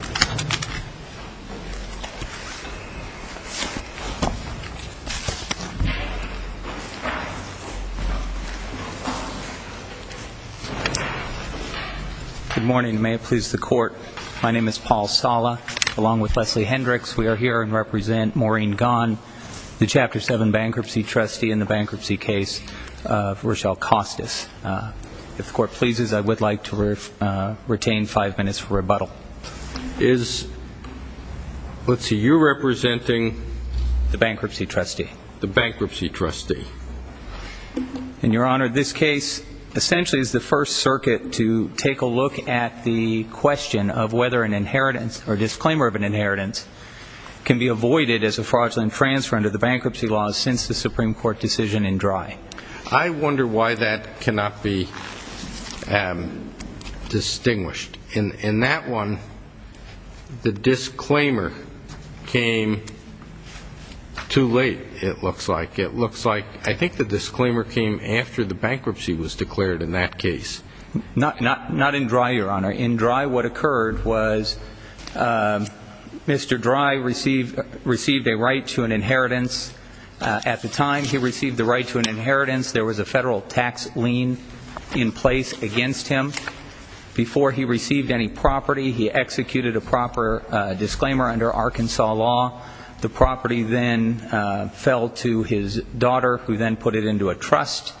Good morning. May it please the Court, my name is Paul Sala along with Leslie Hendricks. We are here to represent Maureen Gaughan, the Chapter 7 bankruptcy trustee in the bankruptcy case of Rochelle Costas. If the Court pleases, I would like to retain five minutes for rebuttal. Is, let's see, you representing? The bankruptcy trustee. The bankruptcy trustee. In your honor, this case essentially is the first circuit to take a look at the question of whether an inheritance or disclaimer of an inheritance can be avoided as a fraudulent transfer under the bankruptcy laws since the Supreme Court decision in Drey. I wonder why that cannot be distinguished. In that one, the disclaimer came too late, it looks like. It looks like I think the disclaimer came after the bankruptcy was declared in that case. Not in Drey, your honor. In Drey, what occurred was Mr. Drey received a right to an inheritance. At the time he received the right to an inheritance, there was a federal tax lien in place against him. Before he received any property, he executed a proper disclaimer under Arkansas law. The property then fell to his daughter who then put it into a trust.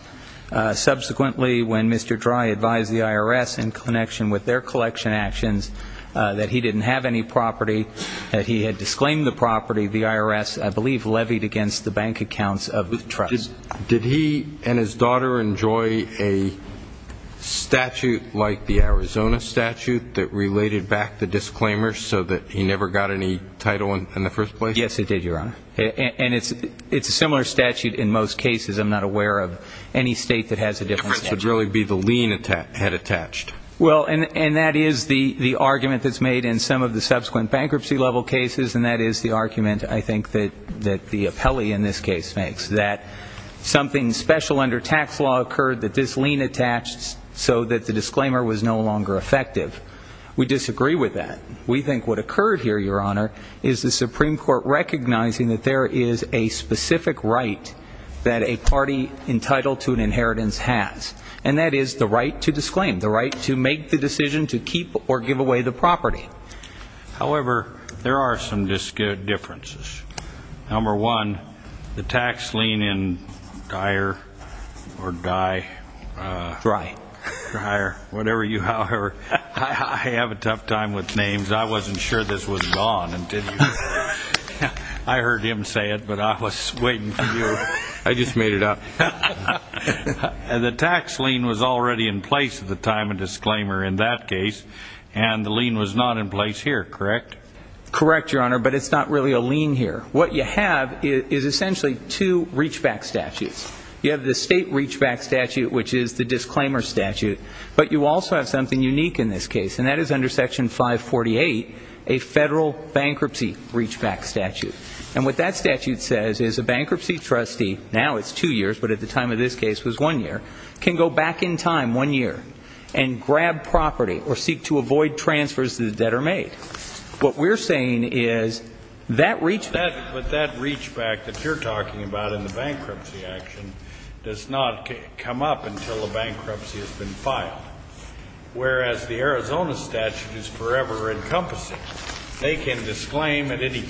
Subsequently, when Mr. Drey advised the IRS in connection with their collection actions that he didn't have any property, that he had disclaimed the property, the IRS, I believe, levied against the bank accounts of the trust. Did he and his daughter enjoy a statute like the Arizona statute that related back the disclaimer so that he never got any title in the first place? Yes, it did, your honor. And it's a similar statute in most cases. I'm not aware of any state that has a different statute. It should really be the lien had attached. Well, and that is the argument that's made in some of the subsequent bankruptcy level cases, and that is the argument, I think, that the appellee in this case makes, that something special under tax law occurred that this lien attached so that the disclaimer was no longer effective. We disagree with that. We think what occurred here, your honor, is the Supreme Court recognizing that there is a specific right that a party entitled to an inheritance has, and that is the right to disclaim, the right to make the decision to keep or give away the property. However, there are some differences. Number one, the tax lien in Dyer or Dye. Dryer. Dryer. Whatever you, however. I have a tough time with names. I wasn't sure this was gone until you. I heard him say it, but I was waiting for you. I just made it up. The tax lien was already in place at the time of disclaimer in that case, and the lien was not in place here, correct? Correct, your honor, but it's not really a lien here. What you have is essentially two reachback statutes. You have the state reachback statute, which is the disclaimer statute, but you also have something unique in this case, and that is under section 548, a federal bankruptcy reachback statute. And what that statute says is a bankruptcy trustee, now it's two years, but at the time of this case it was one year, can go back in time one year and grab property or seek to avoid transfers that are made. What we're saying is that reachback. But that reachback that you're talking about in the bankruptcy action does not come up until the bankruptcy has been filed. Whereas the Arizona statute is forever encompassing. They can disclaim, it's as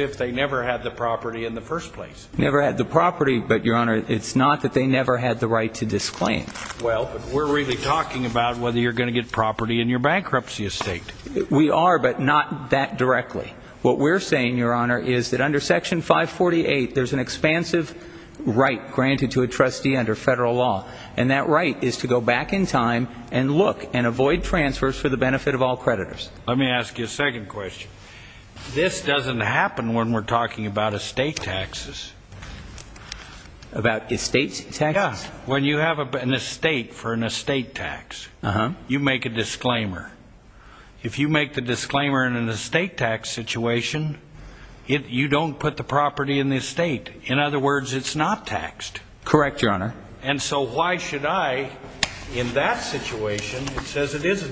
if they never had the property in the first place. Never had the property, but your honor, it's not that they never had the right to disclaim. Well, but we're really talking about whether you're going to get property in your bankruptcy estate. We are, but not that directly. What we're saying, your honor, is that under section 548, there's an expansive right granted to a trustee under federal law, and that right is to go back in time and look and avoid transfers for the benefit of all creditors. Let me ask you a question. This doesn't happen when we're talking about estate taxes. About estate taxes? When you have an estate for an estate tax, you make a disclaimer. If you make the disclaimer in an estate tax situation, you don't put the property in the estate. In other words, it's not taxed. Correct, your honor. And so why should I, in that situation, it says it this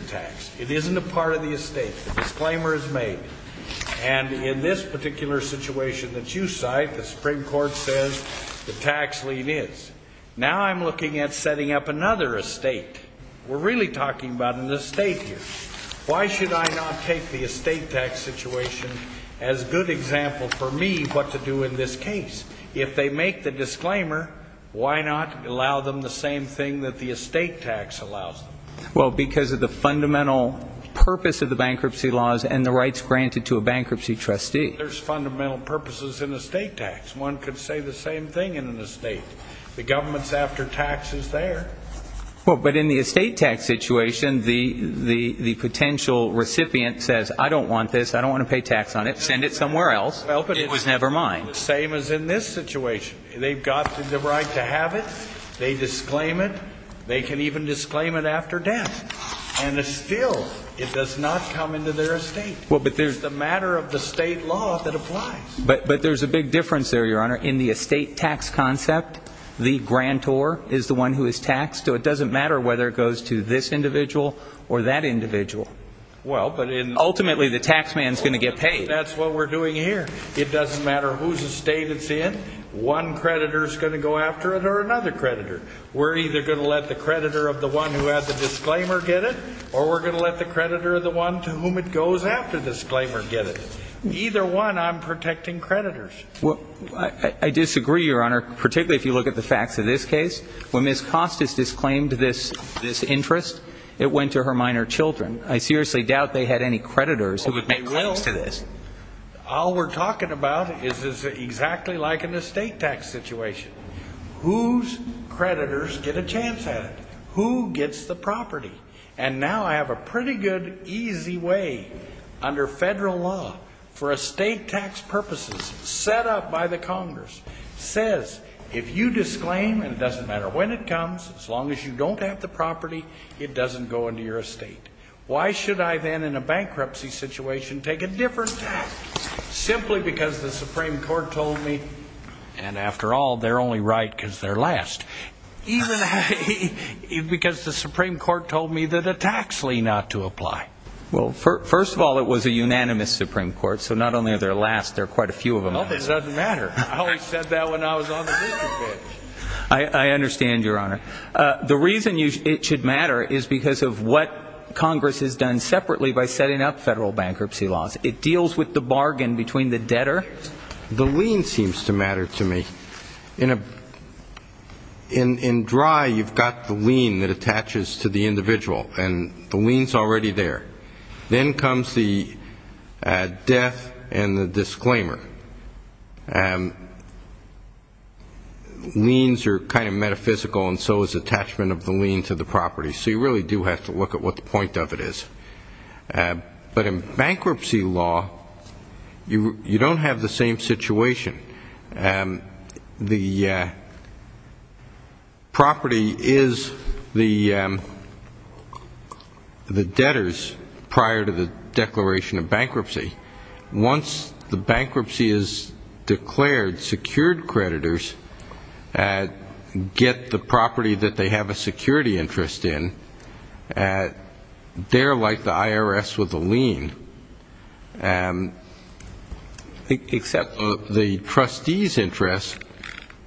particular situation that you cite, the Supreme Court says the tax lien is. Now I'm looking at setting up another estate. We're really talking about an estate here. Why should I not take the estate tax situation as good example for me what to do in this case? If they make the disclaimer, why not allow them the same thing that the estate tax allows them? Well, because of the fundamental purpose of the bankruptcy laws and the rights granted to a bankruptcy trustee. There's fundamental purposes in estate tax. One could say the same thing in an estate. The government's after taxes there. Well, but in the estate tax situation, the the the potential recipient says, I don't want this. I don't want to pay tax on it. Send it somewhere else. It was never mine. Same as in this situation. They've got the right to have it. They disclaim it. They can even disclaim it after death. And it's a matter of the state law that applies. But but there's a big difference there, Your Honor. In the estate tax concept, the grantor is the one who is taxed. So it doesn't matter whether it goes to this individual or that individual. Well, but ultimately, the taxman's going to get paid. That's what we're doing here. It doesn't matter whose estate it's in. One creditor is going to go after it or another creditor. We're either going to let the creditor of the one who has the disclaimer get it, or we're going to let the creditor of the one to whom it goes after the disclaimer get it. Either one, I'm protecting creditors. Well, I disagree, Your Honor, particularly if you look at the facts of this case. When Ms. Costas disclaimed this this interest, it went to her minor children. I seriously doubt they had any creditors who would make claims to this. All we're talking about is is exactly like in the estate tax situation. Whose creditors get a chance at it? Who gets the property? And now I have a pretty good, easy way, under federal law, for estate tax purposes, set up by the Congress, says if you disclaim, and it doesn't matter when it comes, as long as you don't have the property, it doesn't go into your estate. Why should I then, in a bankruptcy situation, take a different tax? Simply because the Supreme Court told me, and after all, they're only right because they're last. Even because the Supreme Court told me that a tax lien ought to apply. Well, first of all, it was a unanimous Supreme Court, so not only are they last, there are quite a few of them. Well, it doesn't matter. I always said that when I was on the district bench. I understand, Your Honor. The reason it should matter is because of what Congress has done separately by setting up federal bankruptcy laws. It deals with the bargain between the debtor. The lien seems to matter to me. In dry, you've got the lien that attaches to the individual, and the lien's already there. Then comes the death and the disclaimer. Liens are kind of metaphysical, and so is attachment of the lien to the property. So you really do have to look at what the property is the debtors prior to the declaration of bankruptcy. Once the bankruptcy is declared, secured creditors get the property that they have a security interest in, they're like the IRS with a lien. Except the trustee's interest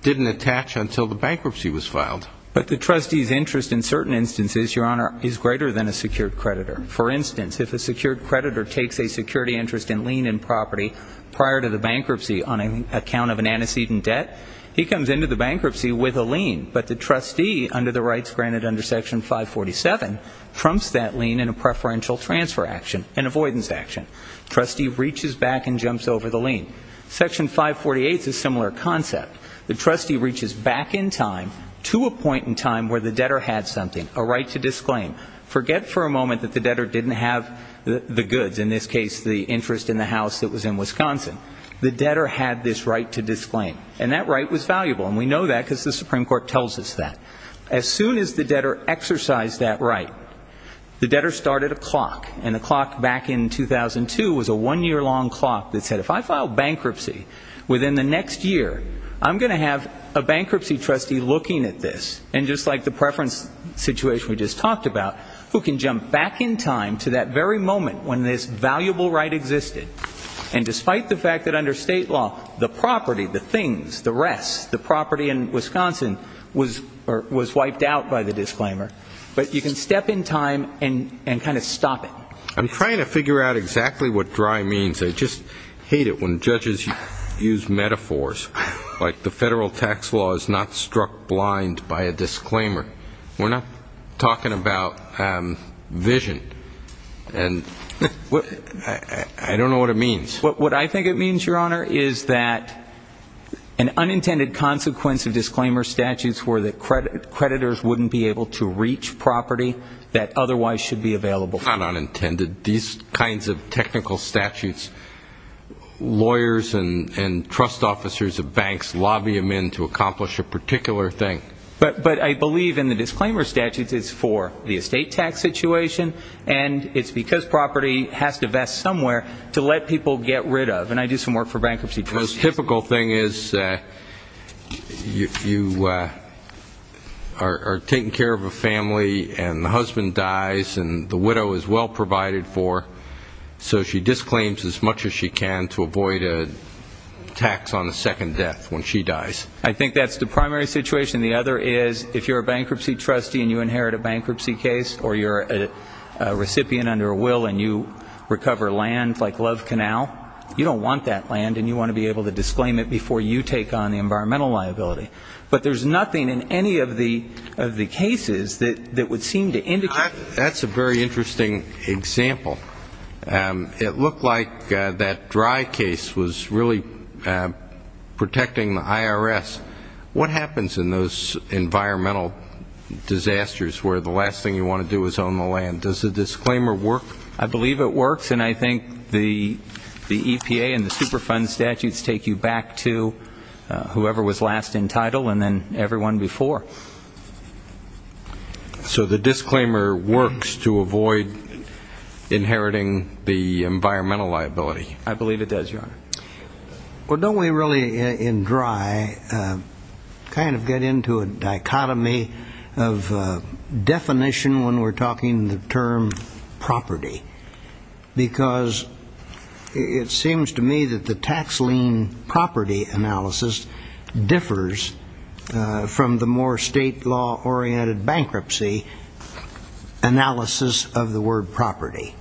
didn't attach until the bankruptcy was filed. But the trustee's interest in certain instances, Your Honor, is greater than a secured creditor. For instance, if a secured creditor takes a security interest in lien and property prior to the bankruptcy on account of an antecedent debt, he comes into the bankruptcy with a lien. But the trustee, under the rights granted under Section 547, trumps that lien in a preferential transfer action, an avoidance action. Trustee reaches back and jumps over the lien. Section 548 is a similar concept. The trustee reaches back in time to a point in time where the debtor had something, a right to disclaim. Forget for a moment that the debtor didn't have the goods, in this case the interest in the house that was in Wisconsin. The debtor had this right to disclaim. And that right was valuable, and we know that because the Supreme Court tells us that. As soon as the debtor exercised that right, the debtor started a clock, and a clock back in 2002 was a one-year-long clock that said, if I file bankruptcy within the next year, I'm going to have a bankruptcy trustee looking at this, and just like the preference situation we just talked about, who can jump back in time to that very moment when this valuable right existed. And despite the fact that under state law, the property, the things, the rest, the property in Wisconsin was wiped out by the disclaimer, but you can step in time and kind of stop it. I'm trying to figure out exactly what dry means. I just hate it when judges use metaphors like the federal tax law is not struck blind by a disclaimer. We're not talking about vision. And I don't know what it means. What I think it means, Your Honor, is that an unintended consequence of disclaimer statutes were that creditors wouldn't be able to reach property that otherwise should be available for them. Not unintended. These kinds of technical statutes, lawyers and trust officers of banks lobby them in to accomplish a particular thing. But I believe in the disclaimer statutes it's for the estate tax situation, and it's because property has to vest somewhere to let people get rid of. And I do some work for bankruptcy trustees. The most typical thing is you are taking care of a family and the husband dies and the widow is well provided for, so she disclaims as much as she can to avoid a tax on a second death when she dies. I think that's the primary situation. The other is if you're a bankruptcy trustee and you inherit a bankruptcy case or you're a recipient under a will and you recover land like Love Canal, you don't want that land and you want to be able to disclaim it before you take on the environmental liability. But there's nothing in any of the cases that would seem to indicate that. That's a very interesting example. It looked like that dry case was really protecting the IRS. What happens in those environmental disasters where the last thing you want to do is own the land? Does the disclaimer work? I believe it works, and I think the EPA and the Superfund statutes take you back to whoever was last in title and then everyone before. So the disclaimer works to avoid inheriting the environmental liability? I believe it does, Your Honor. Well, don't we really, in dry, kind of get into a dichotomy of definition when we're talking the term property? Because it seems to me that the tax lien property analysis differs from the more state law-oriented bankruptcy analysis of the word property.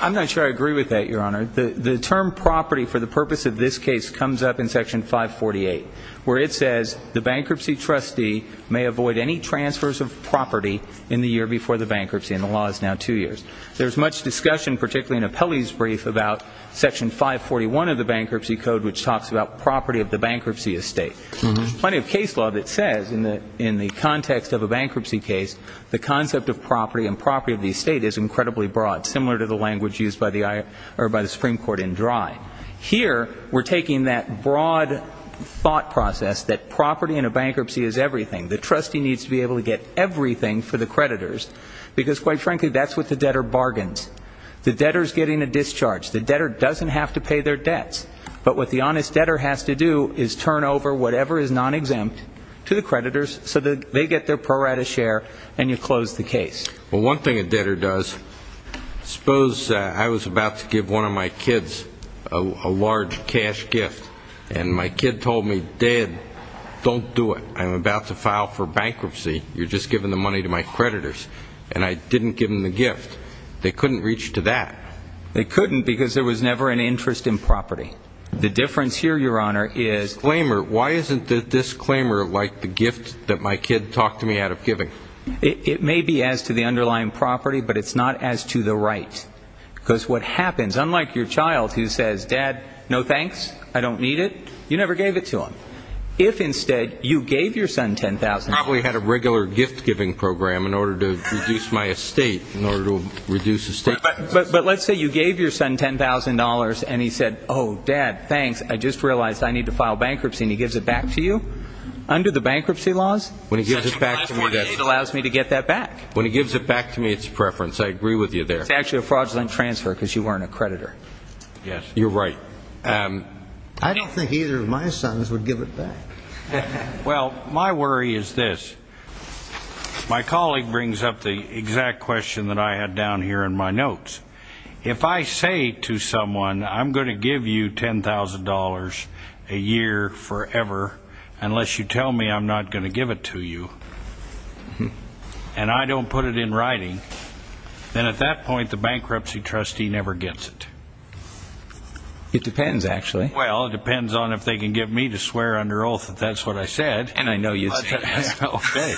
I'm not sure I agree with that, Your Honor. The term property for the purpose of this case comes up in Section 548, where it says the bankruptcy trustee may avoid any transfers of property in the year before the bankruptcy, and the law is now two years. There's much discussion, particularly in Appellee's brief, about Section 541 of the Bankruptcy Code, which talks about property of the bankruptcy estate. There's plenty of case law that says, in the context of a bankruptcy case, the concept of property and property of the estate is incredibly broad, similar to the language used by the Supreme Court in dry. Here, we're taking that broad thought process that property in a bankruptcy is everything. The trustee needs to be able to get everything for the creditors, because, quite frankly, that's what the debtor bargains. The debtor's getting a discharge. The debtor doesn't have to pay their debts. But what the honest debtor has to do is turn over whatever is non-exempt to the creditors so that they get their pro rata share, and you close the case. Well, one thing a debtor does, suppose I was about to give one of my kids a large cash gift, and my kid told me, Dad, don't do it. I'm about to file for bankruptcy. You're just giving the money to my creditors. And I didn't give them the gift. They couldn't reach to that. They couldn't because there was never an interest in property. The difference here, Your Honor, is Disclaimer. Why isn't the disclaimer like the gift that my kid talked to me out of giving? It may be as to the underlying property, but it's not as to the right. Because what happens, unlike your child who says, Dad, no thanks. I don't need it. You never gave it to him. If instead you gave your son $10,000. Probably had a regular gift-giving program in order to reduce my estate, in order to reduce estate costs. But let's say you gave your son $10,000, and he said, oh, Dad, thanks. I just realized I need to file bankruptcy. And he gives it back to you? Under the bankruptcy laws? When he gives it back to me, that's It allows me to get that back. When he gives it back to me, it's a preference. I agree with you there. It's actually a fraudulent transfer because you weren't a creditor. Yes. You're right. I don't think either of my sons would give it back. Well, my worry is this. My colleague brings up the exact question that I had down here in my notes. If I say to someone, I'm going to give you $10,000 a year forever, unless you tell me I'm not going to give it to you, and I don't put it in writing, then at that point, the bankruptcy trustee never gets it. It depends, actually. Well, it depends on if they can get me to swear under oath that that's what I said. And I know you did. Okay.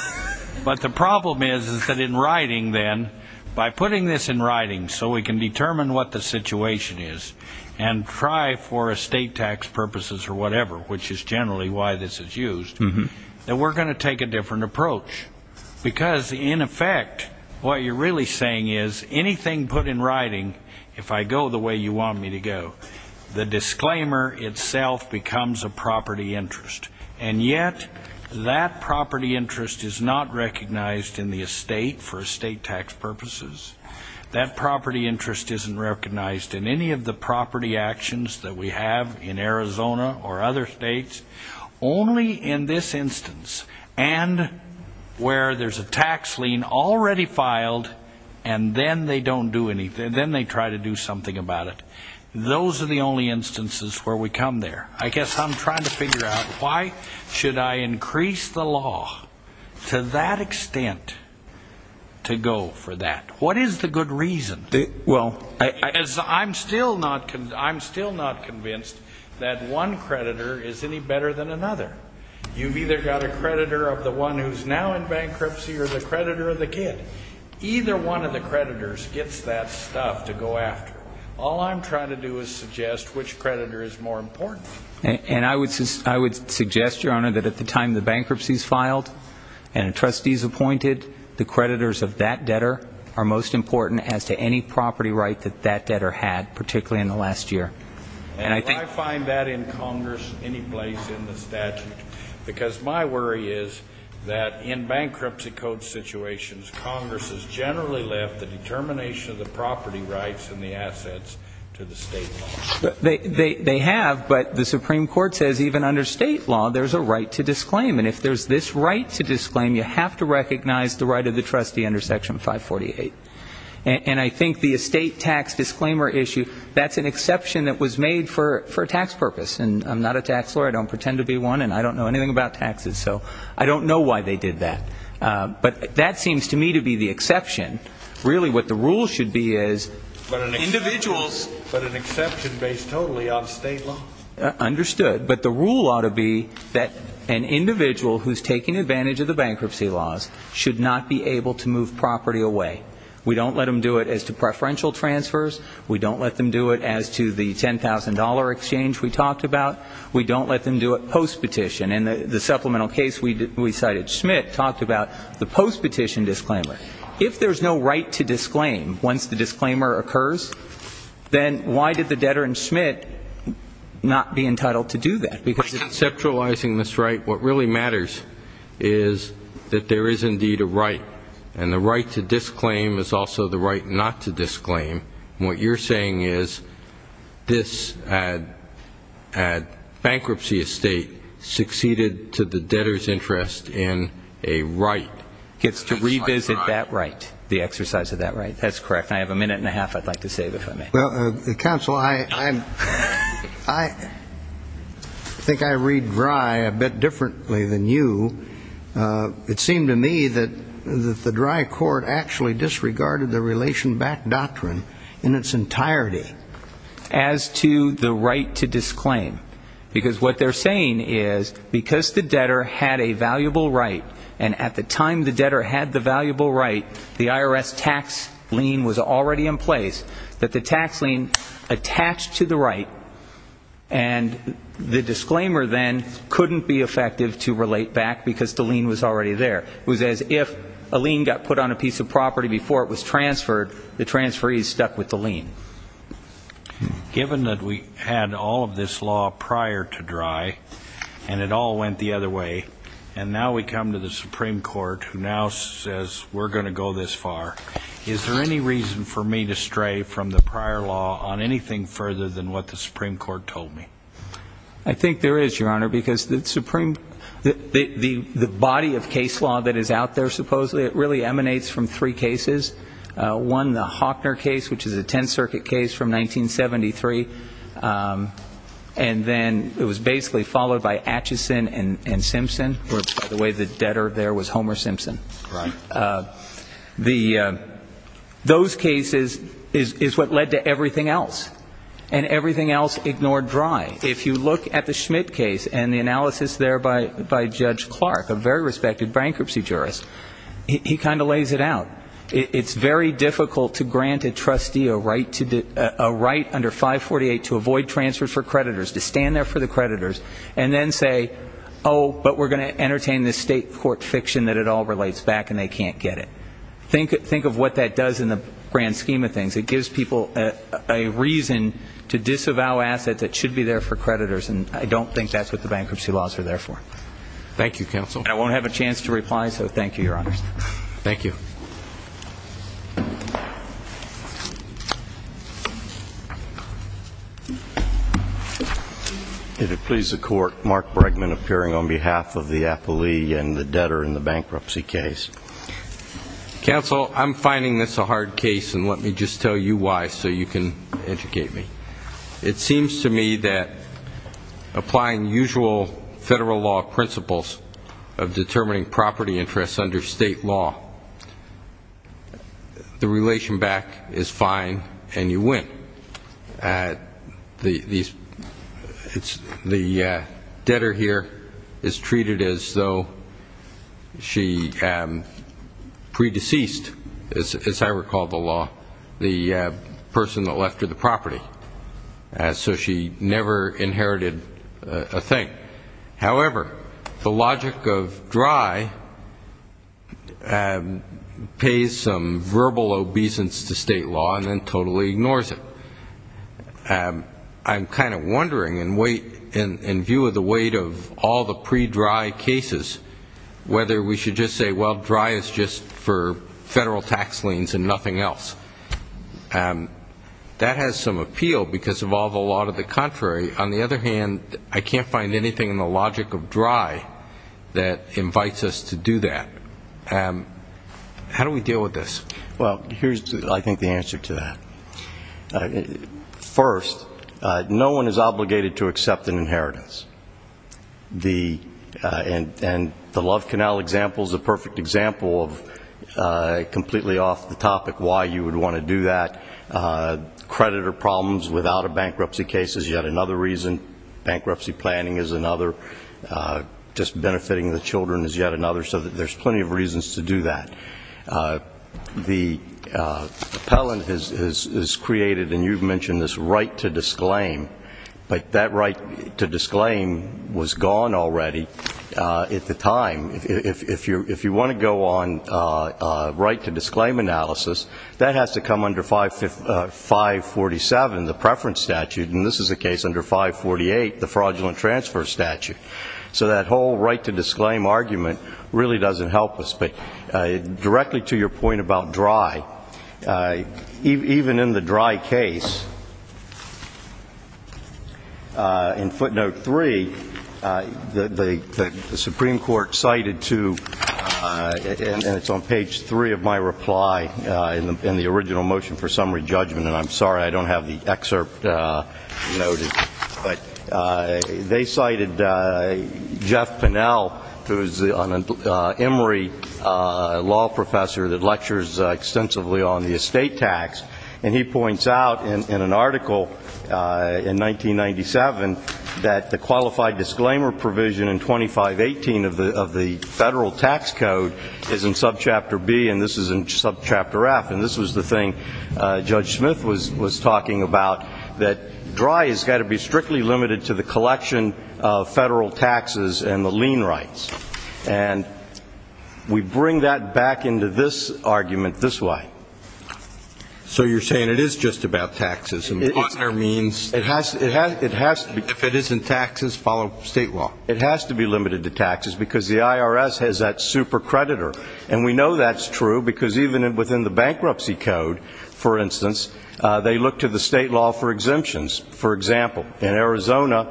But the problem is, is that in writing, then, by putting this in writing so we can determine what the situation is and try for estate tax purposes or whatever, which is generally why this is used, then we're going to take a different approach. Because in effect, what you're really saying is, anything put in writing, if I go the way you want me to go, the disclaimer itself becomes a property interest. And yet, that property interest is not recognized in the estate for estate tax purposes. That property interest isn't recognized in any of the property actions that we have in Arizona or other states. Only in this instance. And where there's a tax lien already filed, and then they don't do anything. Then they try to do something about it. Those are the only instances where we come there. I guess I'm trying to figure out, why should I increase the law to that extent to go for that? What is the good reason? Well, I'm still not convinced that one creditor is any better than another. You've either got a creditor of the one who's now in bankruptcy or the creditor of the kid. Either one of the creditors gets that stuff to go after. All I'm trying to do is suggest which creditor is more important. And I would suggest, Your Honor, that at the time the bankruptcy is filed and a trustee is appointed, the creditors of that debtor are most important as to any property right that that debtor had, particularly in the last year. And do I find that in Congress any place in the statute? Because my worry is that in bankruptcy code situations, Congress has generally left the determination of the property rights and the assets to the state law. They have, but the Supreme Court says even under state law, there's a right to disclaim. And if there's this right to disclaim, you have to recognize the right of the trustee under Section 548. And I think the estate tax disclaimer issue, that's an exception that was made for a tax purpose. And I'm not a tax lawyer. I don't pretend to be one. And I don't know anything about taxes. So I don't know why they did that. But that seems to me to be the exception. Really, what the rule should be is individuals But an exception based totally on state law? Understood. But the rule ought to be that an individual who's taking advantage of the bankruptcy laws should not be able to move property away. We don't let them do it as to preferential transfers. We don't let them do it as to the $10,000 exchange we talked about. We don't let them do it post-petition. In the supplemental case we cited, Schmidt talked about the post-petition disclaimer. If there's no right to disclaim once the disclaimer occurs, then why did the debtor in Schmidt not be entitled to do that? By conceptualizing this right, what really matters is that there is indeed a right. And the right to disclaim is also the right not to disclaim. And what you're saying is, this bankruptcy estate succeeded to the debtor's interest in a right. Gets to revisit that right. The exercise of that right. That's correct. And I have a minute and a half I'd like to save, if I may. Well, Counsel, I think I read Drey a bit differently than you. It seemed to me that the Drey court actually disregarded the relation back doctrine in its entirety. As to the right to disclaim. Because what they're saying is, because the debtor had a valuable right, and at the time the debtor had the valuable right, the IRS tax lien was already in place, that the tax lien attached to the right, and the disclaimer then couldn't be effective to relate back because the lien was already there. It was as if a lien got put on a piece of property before it was transferred, the transferees stuck with the lien. Given that we had all of this law prior to Drey, and it all went the other way, and now we come to the Supreme Court, who now says we're going to go this far, is there any reason for me to stray from the prior law on anything further than what the Supreme Court told me? I think there is, Your Honor, because the body of case law that is out there, supposedly, it really emanates from three cases. One, the Hockner case, which is a Tenth Circuit case from 1973, and then it was basically followed by Acheson and Simpson, where by the way, the debtor there was Homer Simpson. Those cases is what led to everything else, and everything else ignored Drey. If you look at the Schmidt case and the analysis there by Judge Clark, a very respected bankruptcy jurist, he kind of lays it out. It's very difficult to grant a trustee a right under 548 to avoid transfers for creditors, to stand and entertain this state court fiction that it all relates back and they can't get it. Think of what that does in the grand scheme of things. It gives people a reason to disavow assets that should be there for creditors, and I don't think that's what the bankruptcy laws are there for. Thank you, Counsel. And I won't have a chance to reply, so thank you, Your Honor. Thank you. If it please the Court, Mark Bregman appearing on behalf of the appellee and the debtor in the bankruptcy case. Counsel, I'm finding this a hard case, and let me just tell you why so you can educate me. It seems to me that applying usual federal law principles of determining property interests under state law, the relation back is fine and you win. The debtor here is treated as though she pre-deceased, as I recall the law, the person that left her the property, so she never inherited a thing. However, the logic of dry pays some verbal obeisance to state law and then totally ignores it. I'm kind of wondering, in view of the weight of all the pre-dry cases, whether we should just say, well, dry is just for federal tax liens and nothing else. That has some appeal because of all the law to the contrary. On the other hand, I can't find anything in the logic of dry that invites us to do that. How do we deal with this? Well, here's, I think, the answer to that. First, no one is obligated to accept an inheritance. And the Love Canal example is a perfect example of completely off the topic why you would want to do that. Creditor problems without a bankruptcy case is yet another reason. Bankruptcy planning is another. Just benefiting the children is yet another. So there's plenty of reasons to do that. The appellant is created, and you've mentioned this right to disclaim, but that right to disclaim was gone already at the time. If you want to go on right to disclaim analysis, that has to come under 547, the preference statute, and this is the case under 548, the fraudulent transfer statute. So that whole right to disclaim argument really doesn't help us. But directly to your point about dry, even in the dry case, in footnote 3, the right to disclaim argument is gone already. The Supreme Court cited to, and it's on page 3 of my reply in the original motion for summary judgment, and I'm sorry I don't have the excerpt noted, but they cited Jeff Pennell, who's an Emory law professor that lectures extensively on the estate tax, and he points out in an article in 1997 that the qualified disclaimer provision in 2518 of the federal tax code is in subchapter B, and this is in subchapter F, and this was the thing Judge Smith was talking about, that dry has got to be strictly limited to the collection of federal taxes and the lien rights. And we bring that back into this argument this way. So you're saying it is just about taxes, and the partner means? It has to be. If it isn't taxes, follow state law. It has to be limited to taxes because the IRS has that super creditor, and we know that's true because even within the bankruptcy code, for instance, they look to the state law for exemptions. For example, in Arizona,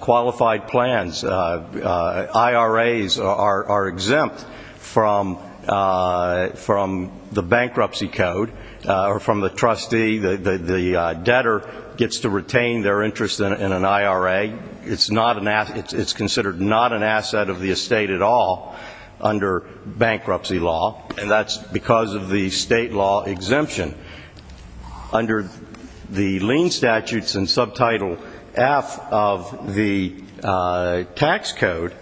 qualified plans, IRAs are exempt from the bankruptcy code, or from the trustee, the debtor gets to retain their interest in an IRA. It's considered not an asset of the estate at all under bankruptcy law, and that's because of the state law exemption. Under the lien statutes in subtitle F of the tax code,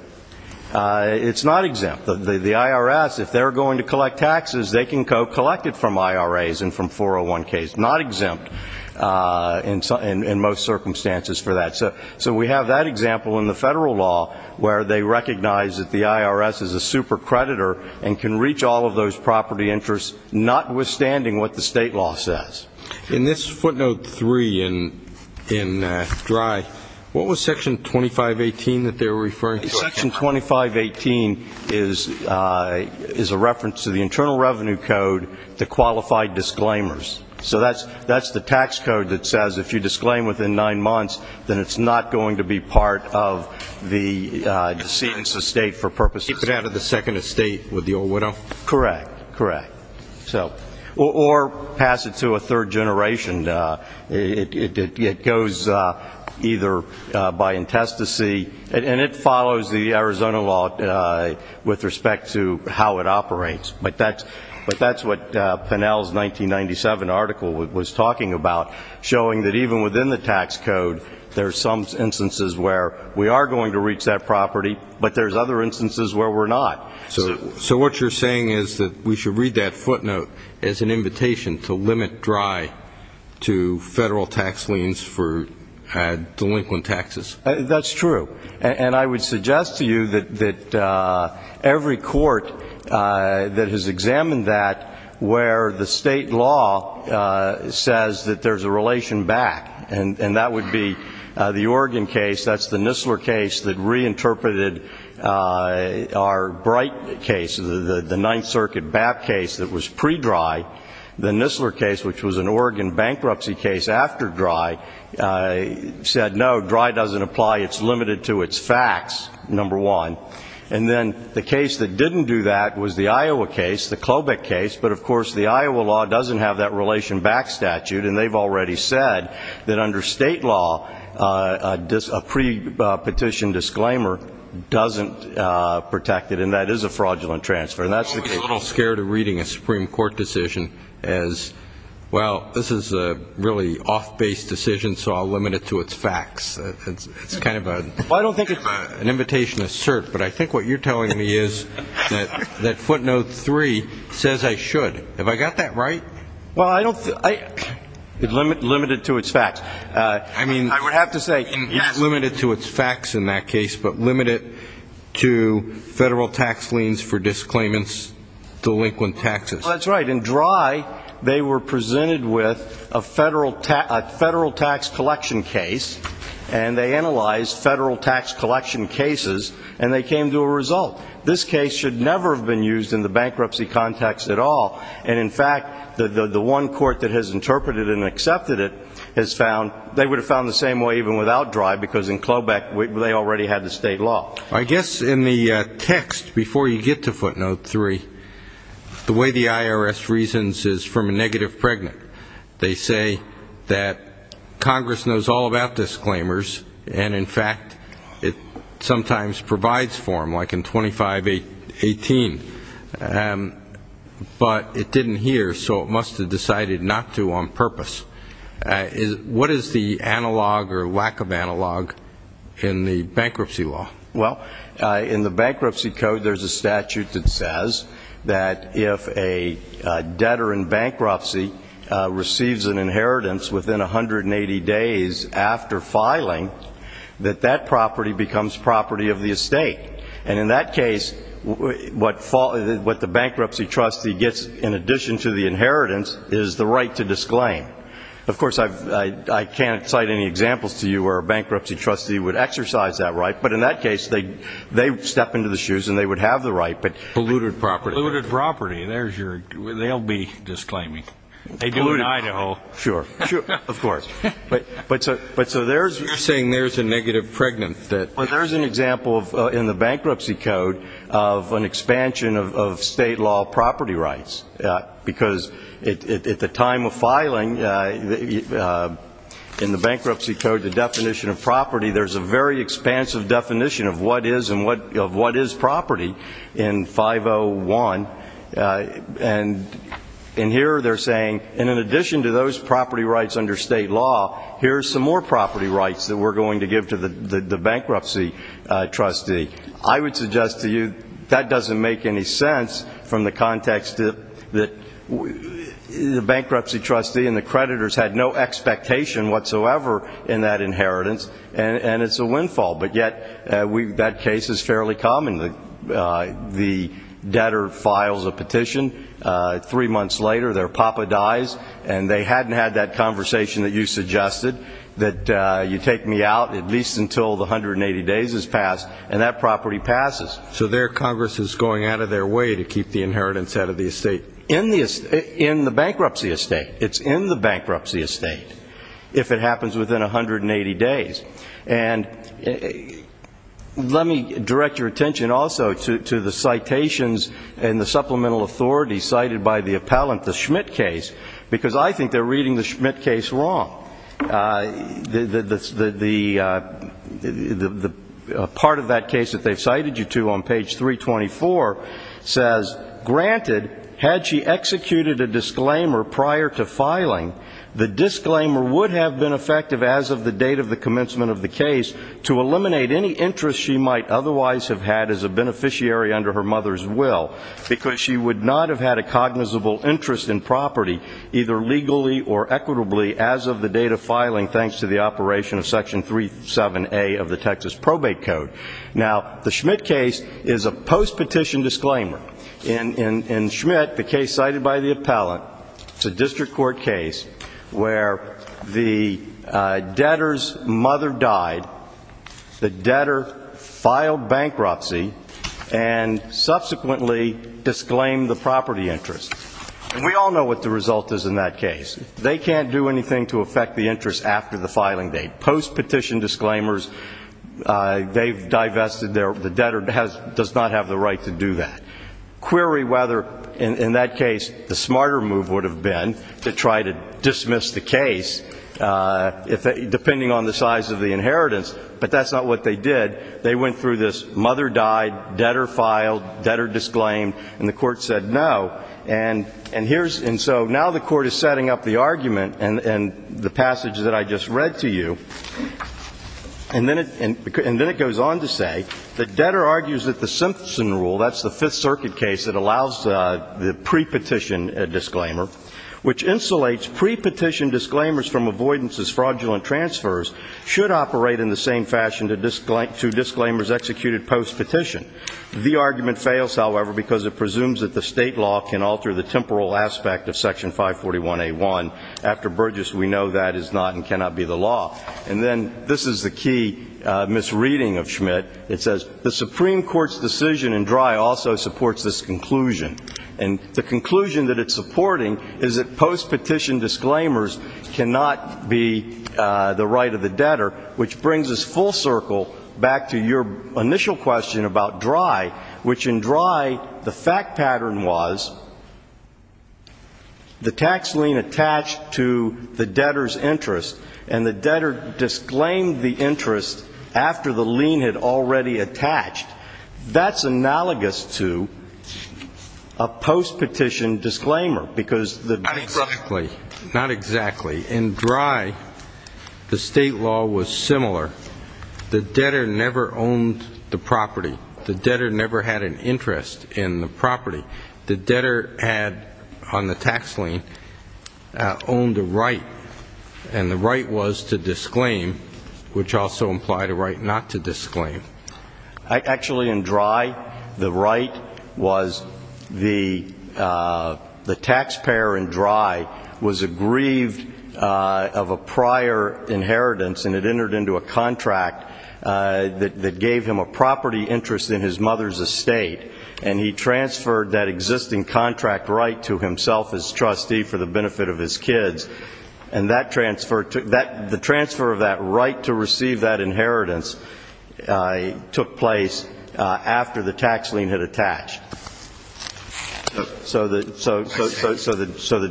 it's not exempt. The IRS, if they're going to collect taxes, they can co-collect it from IRAs and from 401Ks, not exempt in most circumstances for that. So we have that example in the federal law where they recognize that the IRS is a super creditor and can reach all of those property interests, notwithstanding what the state law says. In this footnote 3 in dry, what was section 2518 that they were referring to? Section 2518 is a reference to the Internal Revenue Code, the qualified disclaimers. So that's the tax code that says if you disclaim within nine months, then it's not going to be part of the decedent's estate for purposes of the second estate with the old widow. Or pass it to a third generation. It goes either by intestacy, and it follows the old Arizona law with respect to how it operates. But that's what Pennell's 1997 article was talking about, showing that even within the tax code, there's some instances where we are going to reach that property, but there's other instances where we're not. So what you're saying is that we should read that footnote as an invitation to limit dry to federal tax liens for delinquent taxes? That's true. And I would suggest to you that every court that has examined that where the state law says that there's a relation back, and that would be the Oregon case, that's the Nistler case that reinterpreted our Bright case, the Ninth Circuit BAP case that was pre-dry. The Nistler case, which was an Oregon bankruptcy case after dry, said no, dry doesn't apply, it's limited to its facts, number one. And then the case that didn't do that was the Iowa case, the Klobuch case, but of course the Iowa law doesn't have that relation back statute, and they've already said that under state law, a pre-petition disclaimer doesn't protect it, and that is a fraudulent transfer. I'm always a little scared of reading a Supreme Court decision as, well, this is a really off-base decision, so I'll limit it to its facts. It's kind of an invitation to cert, but I think what you're telling me is that footnote three says I should. Have I got that right? Well, I don't think, limit it to its facts. I mean, I would have to say, yes. Not limit it to its facts in that case, but limit it to federal tax liens for disclaimants, delinquent taxes. Well, that's right. In dry, they were presented with a federal tax collection case, and they analyzed federal tax collection cases, and they came to a result. This case should never have been used in the bankruptcy context at all, and in fact, the one court that has interpreted and accepted it has found, they would have found the same way even without dry, because in Klobuch, they already had the state law. I guess in the text, before you get to footnote three, the way the IRS reasons is from a negative pregnant. They say that Congress knows all about disclaimers, and in fact, it sometimes provides for them, like in 2518, but it didn't hear, so it must have decided not to on purpose. What is the analog or lack of analog in the bankruptcy law? Well, in the bankruptcy code, there's a statute that says that if a debtor in bankruptcy receives an inheritance within 180 days after filing, that that property becomes property of the estate, and in that case, what the bankruptcy trustee gets in addition to the inheritance is the right to disclaim. Of course, I can't cite any examples to you where a bankruptcy trustee would exercise that right, but in that case, they step into the shoes, and they would have the right, but... Polluted property. Polluted property. There's your... They'll be disclaiming. They do in Idaho. Sure, sure, of course, but so there's... You're saying there's a negative pregnant that... Well, there's an example in the bankruptcy code of an expansion of state law property rights, because at the time of filing, in the bankruptcy code, the definition of property there's a very expansive definition of what is and what of what is property in 501, and here they're saying, in addition to those property rights under state law, here's some more property rights that we're going to give to the bankruptcy trustee. I would suggest to you that doesn't make any sense from the context that the bankruptcy trustee and the bankruptcy trustee, and it's a windfall, but yet that case is fairly common. The debtor files a petition. Three months later, their papa dies, and they hadn't had that conversation that you suggested, that you take me out at least until the 180 days has passed, and that property passes. So there, Congress is going out of their way to keep the inheritance out of the estate. In the bankruptcy estate. It's in the bankruptcy estate if it happens within 180 days, and let me direct your attention also to the citations and the supplemental authority cited by the appellant, the Schmitt case, because I think they're reading the Schmitt case wrong. Part of that case that they've cited you to on page 324 says, granted, had she executed a disclaimer prior to filing, the disclaimer would have been effective as of the date of the commencement of the case to eliminate any interest she might otherwise have had as a beneficiary under her mother's will, because she would not have had a cognizable interest in property, either legally or equitably, as of the date of filing, thanks to the operation of section 37A of the Texas probate code. Now the Schmitt case is a post-petition disclaimer. In Schmitt, the case cited by the appellant, it's a district court case where the debtor's mother died, the debtor filed bankruptcy, and subsequently disclaimed the property interest. We all know what the result is in that case. They can't do anything to affect the interest after the filing date. Post-petition disclaimers, they've divested, the debtor does not have the right to do that. Query whether, in that case, the smarter move would have been to try to dismiss the case, depending on the size of the inheritance, but that's not what they did. They went through this mother died, debtor filed, debtor disclaimed, and the court said no. And so now the court is setting up the argument and the passage that I just read to you, and then it goes on to say that debtor argues that the Simpson rule, that's the Fifth Circuit case that allows the pre-petition disclaimer, which insulates pre-petition disclaimers from avoidance as fraudulent transfers, should operate in the same fashion to disclaimers executed post-petition. The argument fails, however, because it presumes that the state law can alter the temporal aspect of section 541A1. After Burgess, we know that is not and cannot be the law. And then this is the key misreading of Schmidt. It says, the Supreme Court's decision in Drey also supports this conclusion. And the conclusion that it's supporting is that post-petition disclaimers cannot be the right of the debtor, which brings us full circle back to your initial question about Drey, which in Drey, the fact pattern was the tax lien attached to the debtor's interest, and the debtor disclaimed the interest after the lien had already attached. That's analogous to a post-petition disclaimer, because the debtor — Not exactly. Not exactly. In Drey, the state law was similar. The debtor never owned the property. The debtor never had an interest in the property. The debtor had, on the tax lien, owned a right, and the right was to disclaim, which also implied a right not to disclaim. Actually, in Drey, the right was the taxpayer in Drey was aggrieved of a prior inheritance, and it entered into a contract that gave him a property interest in his mother's estate, and he transferred that existing contract right to himself as trustee for the benefit of his kids. And the transfer of that right to receive that inheritance took place after the tax lien had attached. So the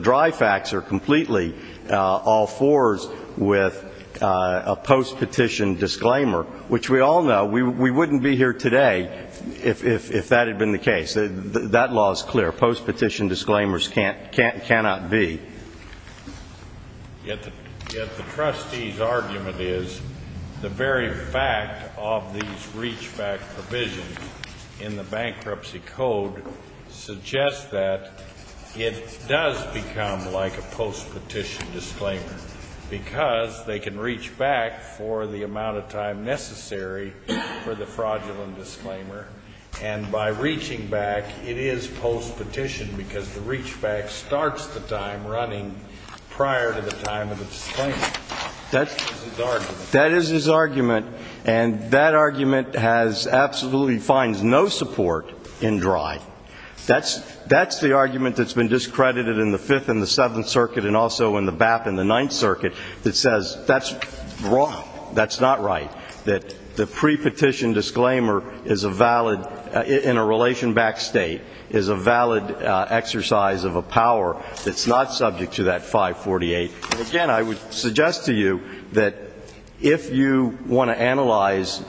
Drey facts are completely all fours with a post-petition disclaimer, which we all know we wouldn't be here today if that had been the case. That law is clear. Post-petition disclaimers cannot be. Yet the trustee's argument is the very fact of these reach-back provisions in the Bankruptcy Code suggests that it does become like a post-petition disclaimer, because they can reach back for the amount of time necessary for the fraudulent disclaimer. And by reaching back, it is post-petition, because the reach-back starts the time running prior to the time of the disclaimer. That is his argument. That is his argument, and that argument has absolutely finds no support in Drey. That's the argument that's been discredited in the Fifth and the Fifth Amendment. That's wrong. That's not right. That the pre-petition disclaimer is a valid, in a relation-backed state, is a valid exercise of a power that's not subject to that 548. And again, I would suggest to you that if you want to analyze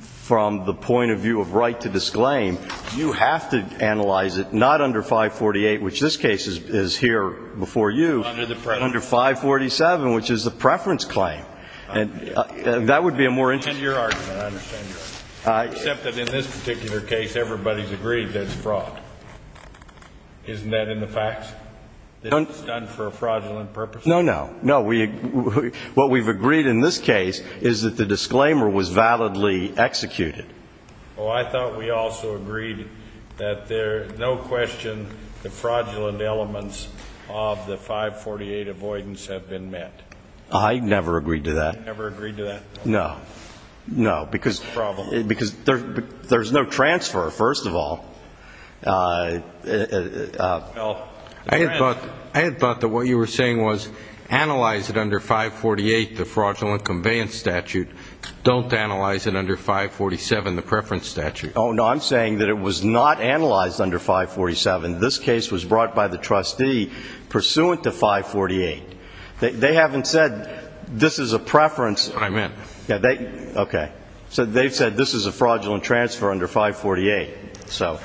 from the point of view of right to disclaim, you have to analyze it not under 548, which this case is here before you, but under 547, which is a preference claim. And that would be a more interesting... I understand your argument. Except that in this particular case, everybody's agreed that it's fraud. Isn't that in the facts? That it's done for a fraudulent purpose? No, no. No, what we've agreed in this case is that the disclaimer was validly executed. Oh, I thought we also agreed that there's no question the fraudulent elements of the 548 avoidance have been met. I never agreed to that. Never agreed to that? No. No, because there's no transfer, first of all. I had thought that what you were saying was analyze it under 548, the fraudulent conveyance statute. Don't analyze it under 547, the preference statute. Oh no, I'm brought by the trustee pursuant to 548. They haven't said this is a preference... I'm in. Okay, so they've said this is a fraudulent transfer under 548. Well,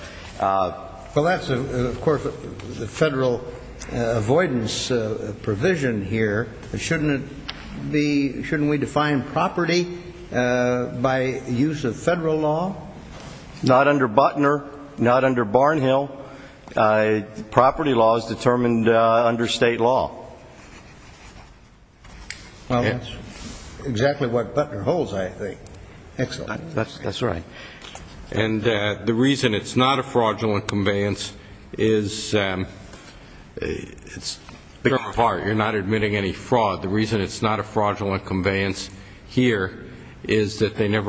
that's of course the federal avoidance provision here. Shouldn't we define property by use of federal law? Not under Butner, not under Barnhill. Property law is determined under state law. Well, that's exactly what Butner holds, I think. Excellent. That's right. And the reason it's not a fraudulent conveyance is, it's a big part, you're not admitting any fraud. The reason it's never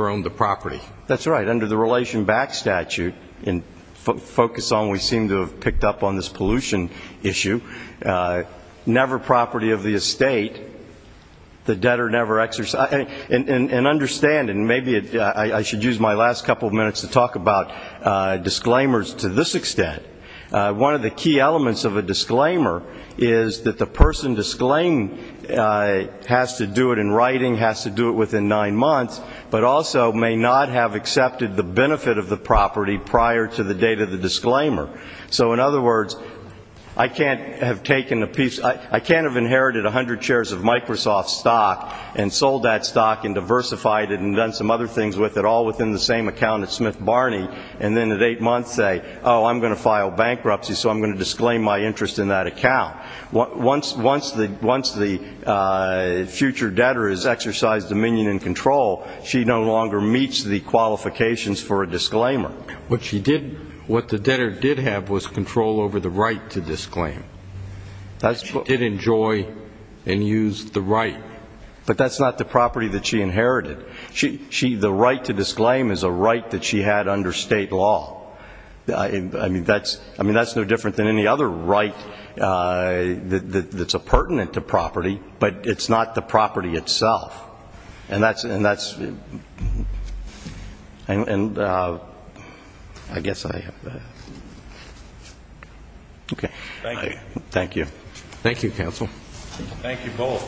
owned the property. That's right. Under the Relation Back statute, and focus on what we seem to have picked up on this pollution issue, never property of the estate, the debtor never exercised. And understand, and maybe I should use my last couple of minutes to talk about disclaimers to this extent. One of the key elements of a disclaimer is that the person disclaimed has to do it in writing, has to do it within nine months, but also may not have accepted the benefit of the property prior to the date of the disclaimer. So in other words, I can't have taken a piece, I can't have inherited 100 shares of Microsoft stock and sold that stock and diversified it and done some other things with it all within the same account at Smith Barney and then at eight months say, oh, I'm going to file bankruptcy, so I'm going to disclaim my property. Once the future debtor has exercised dominion and control, she no longer meets the qualifications for a disclaimer. What she did, what the debtor did have was control over the right to disclaim. She did enjoy and use the right. But that's not the property that she inherited. The right to disclaim is a right that she had under state law. I mean, that's no any other right that's a pertinent to property, but it's not the property itself. And that's, and that's, and I guess I, okay. Thank you. Thank you, counsel. Thank you both. Thank you.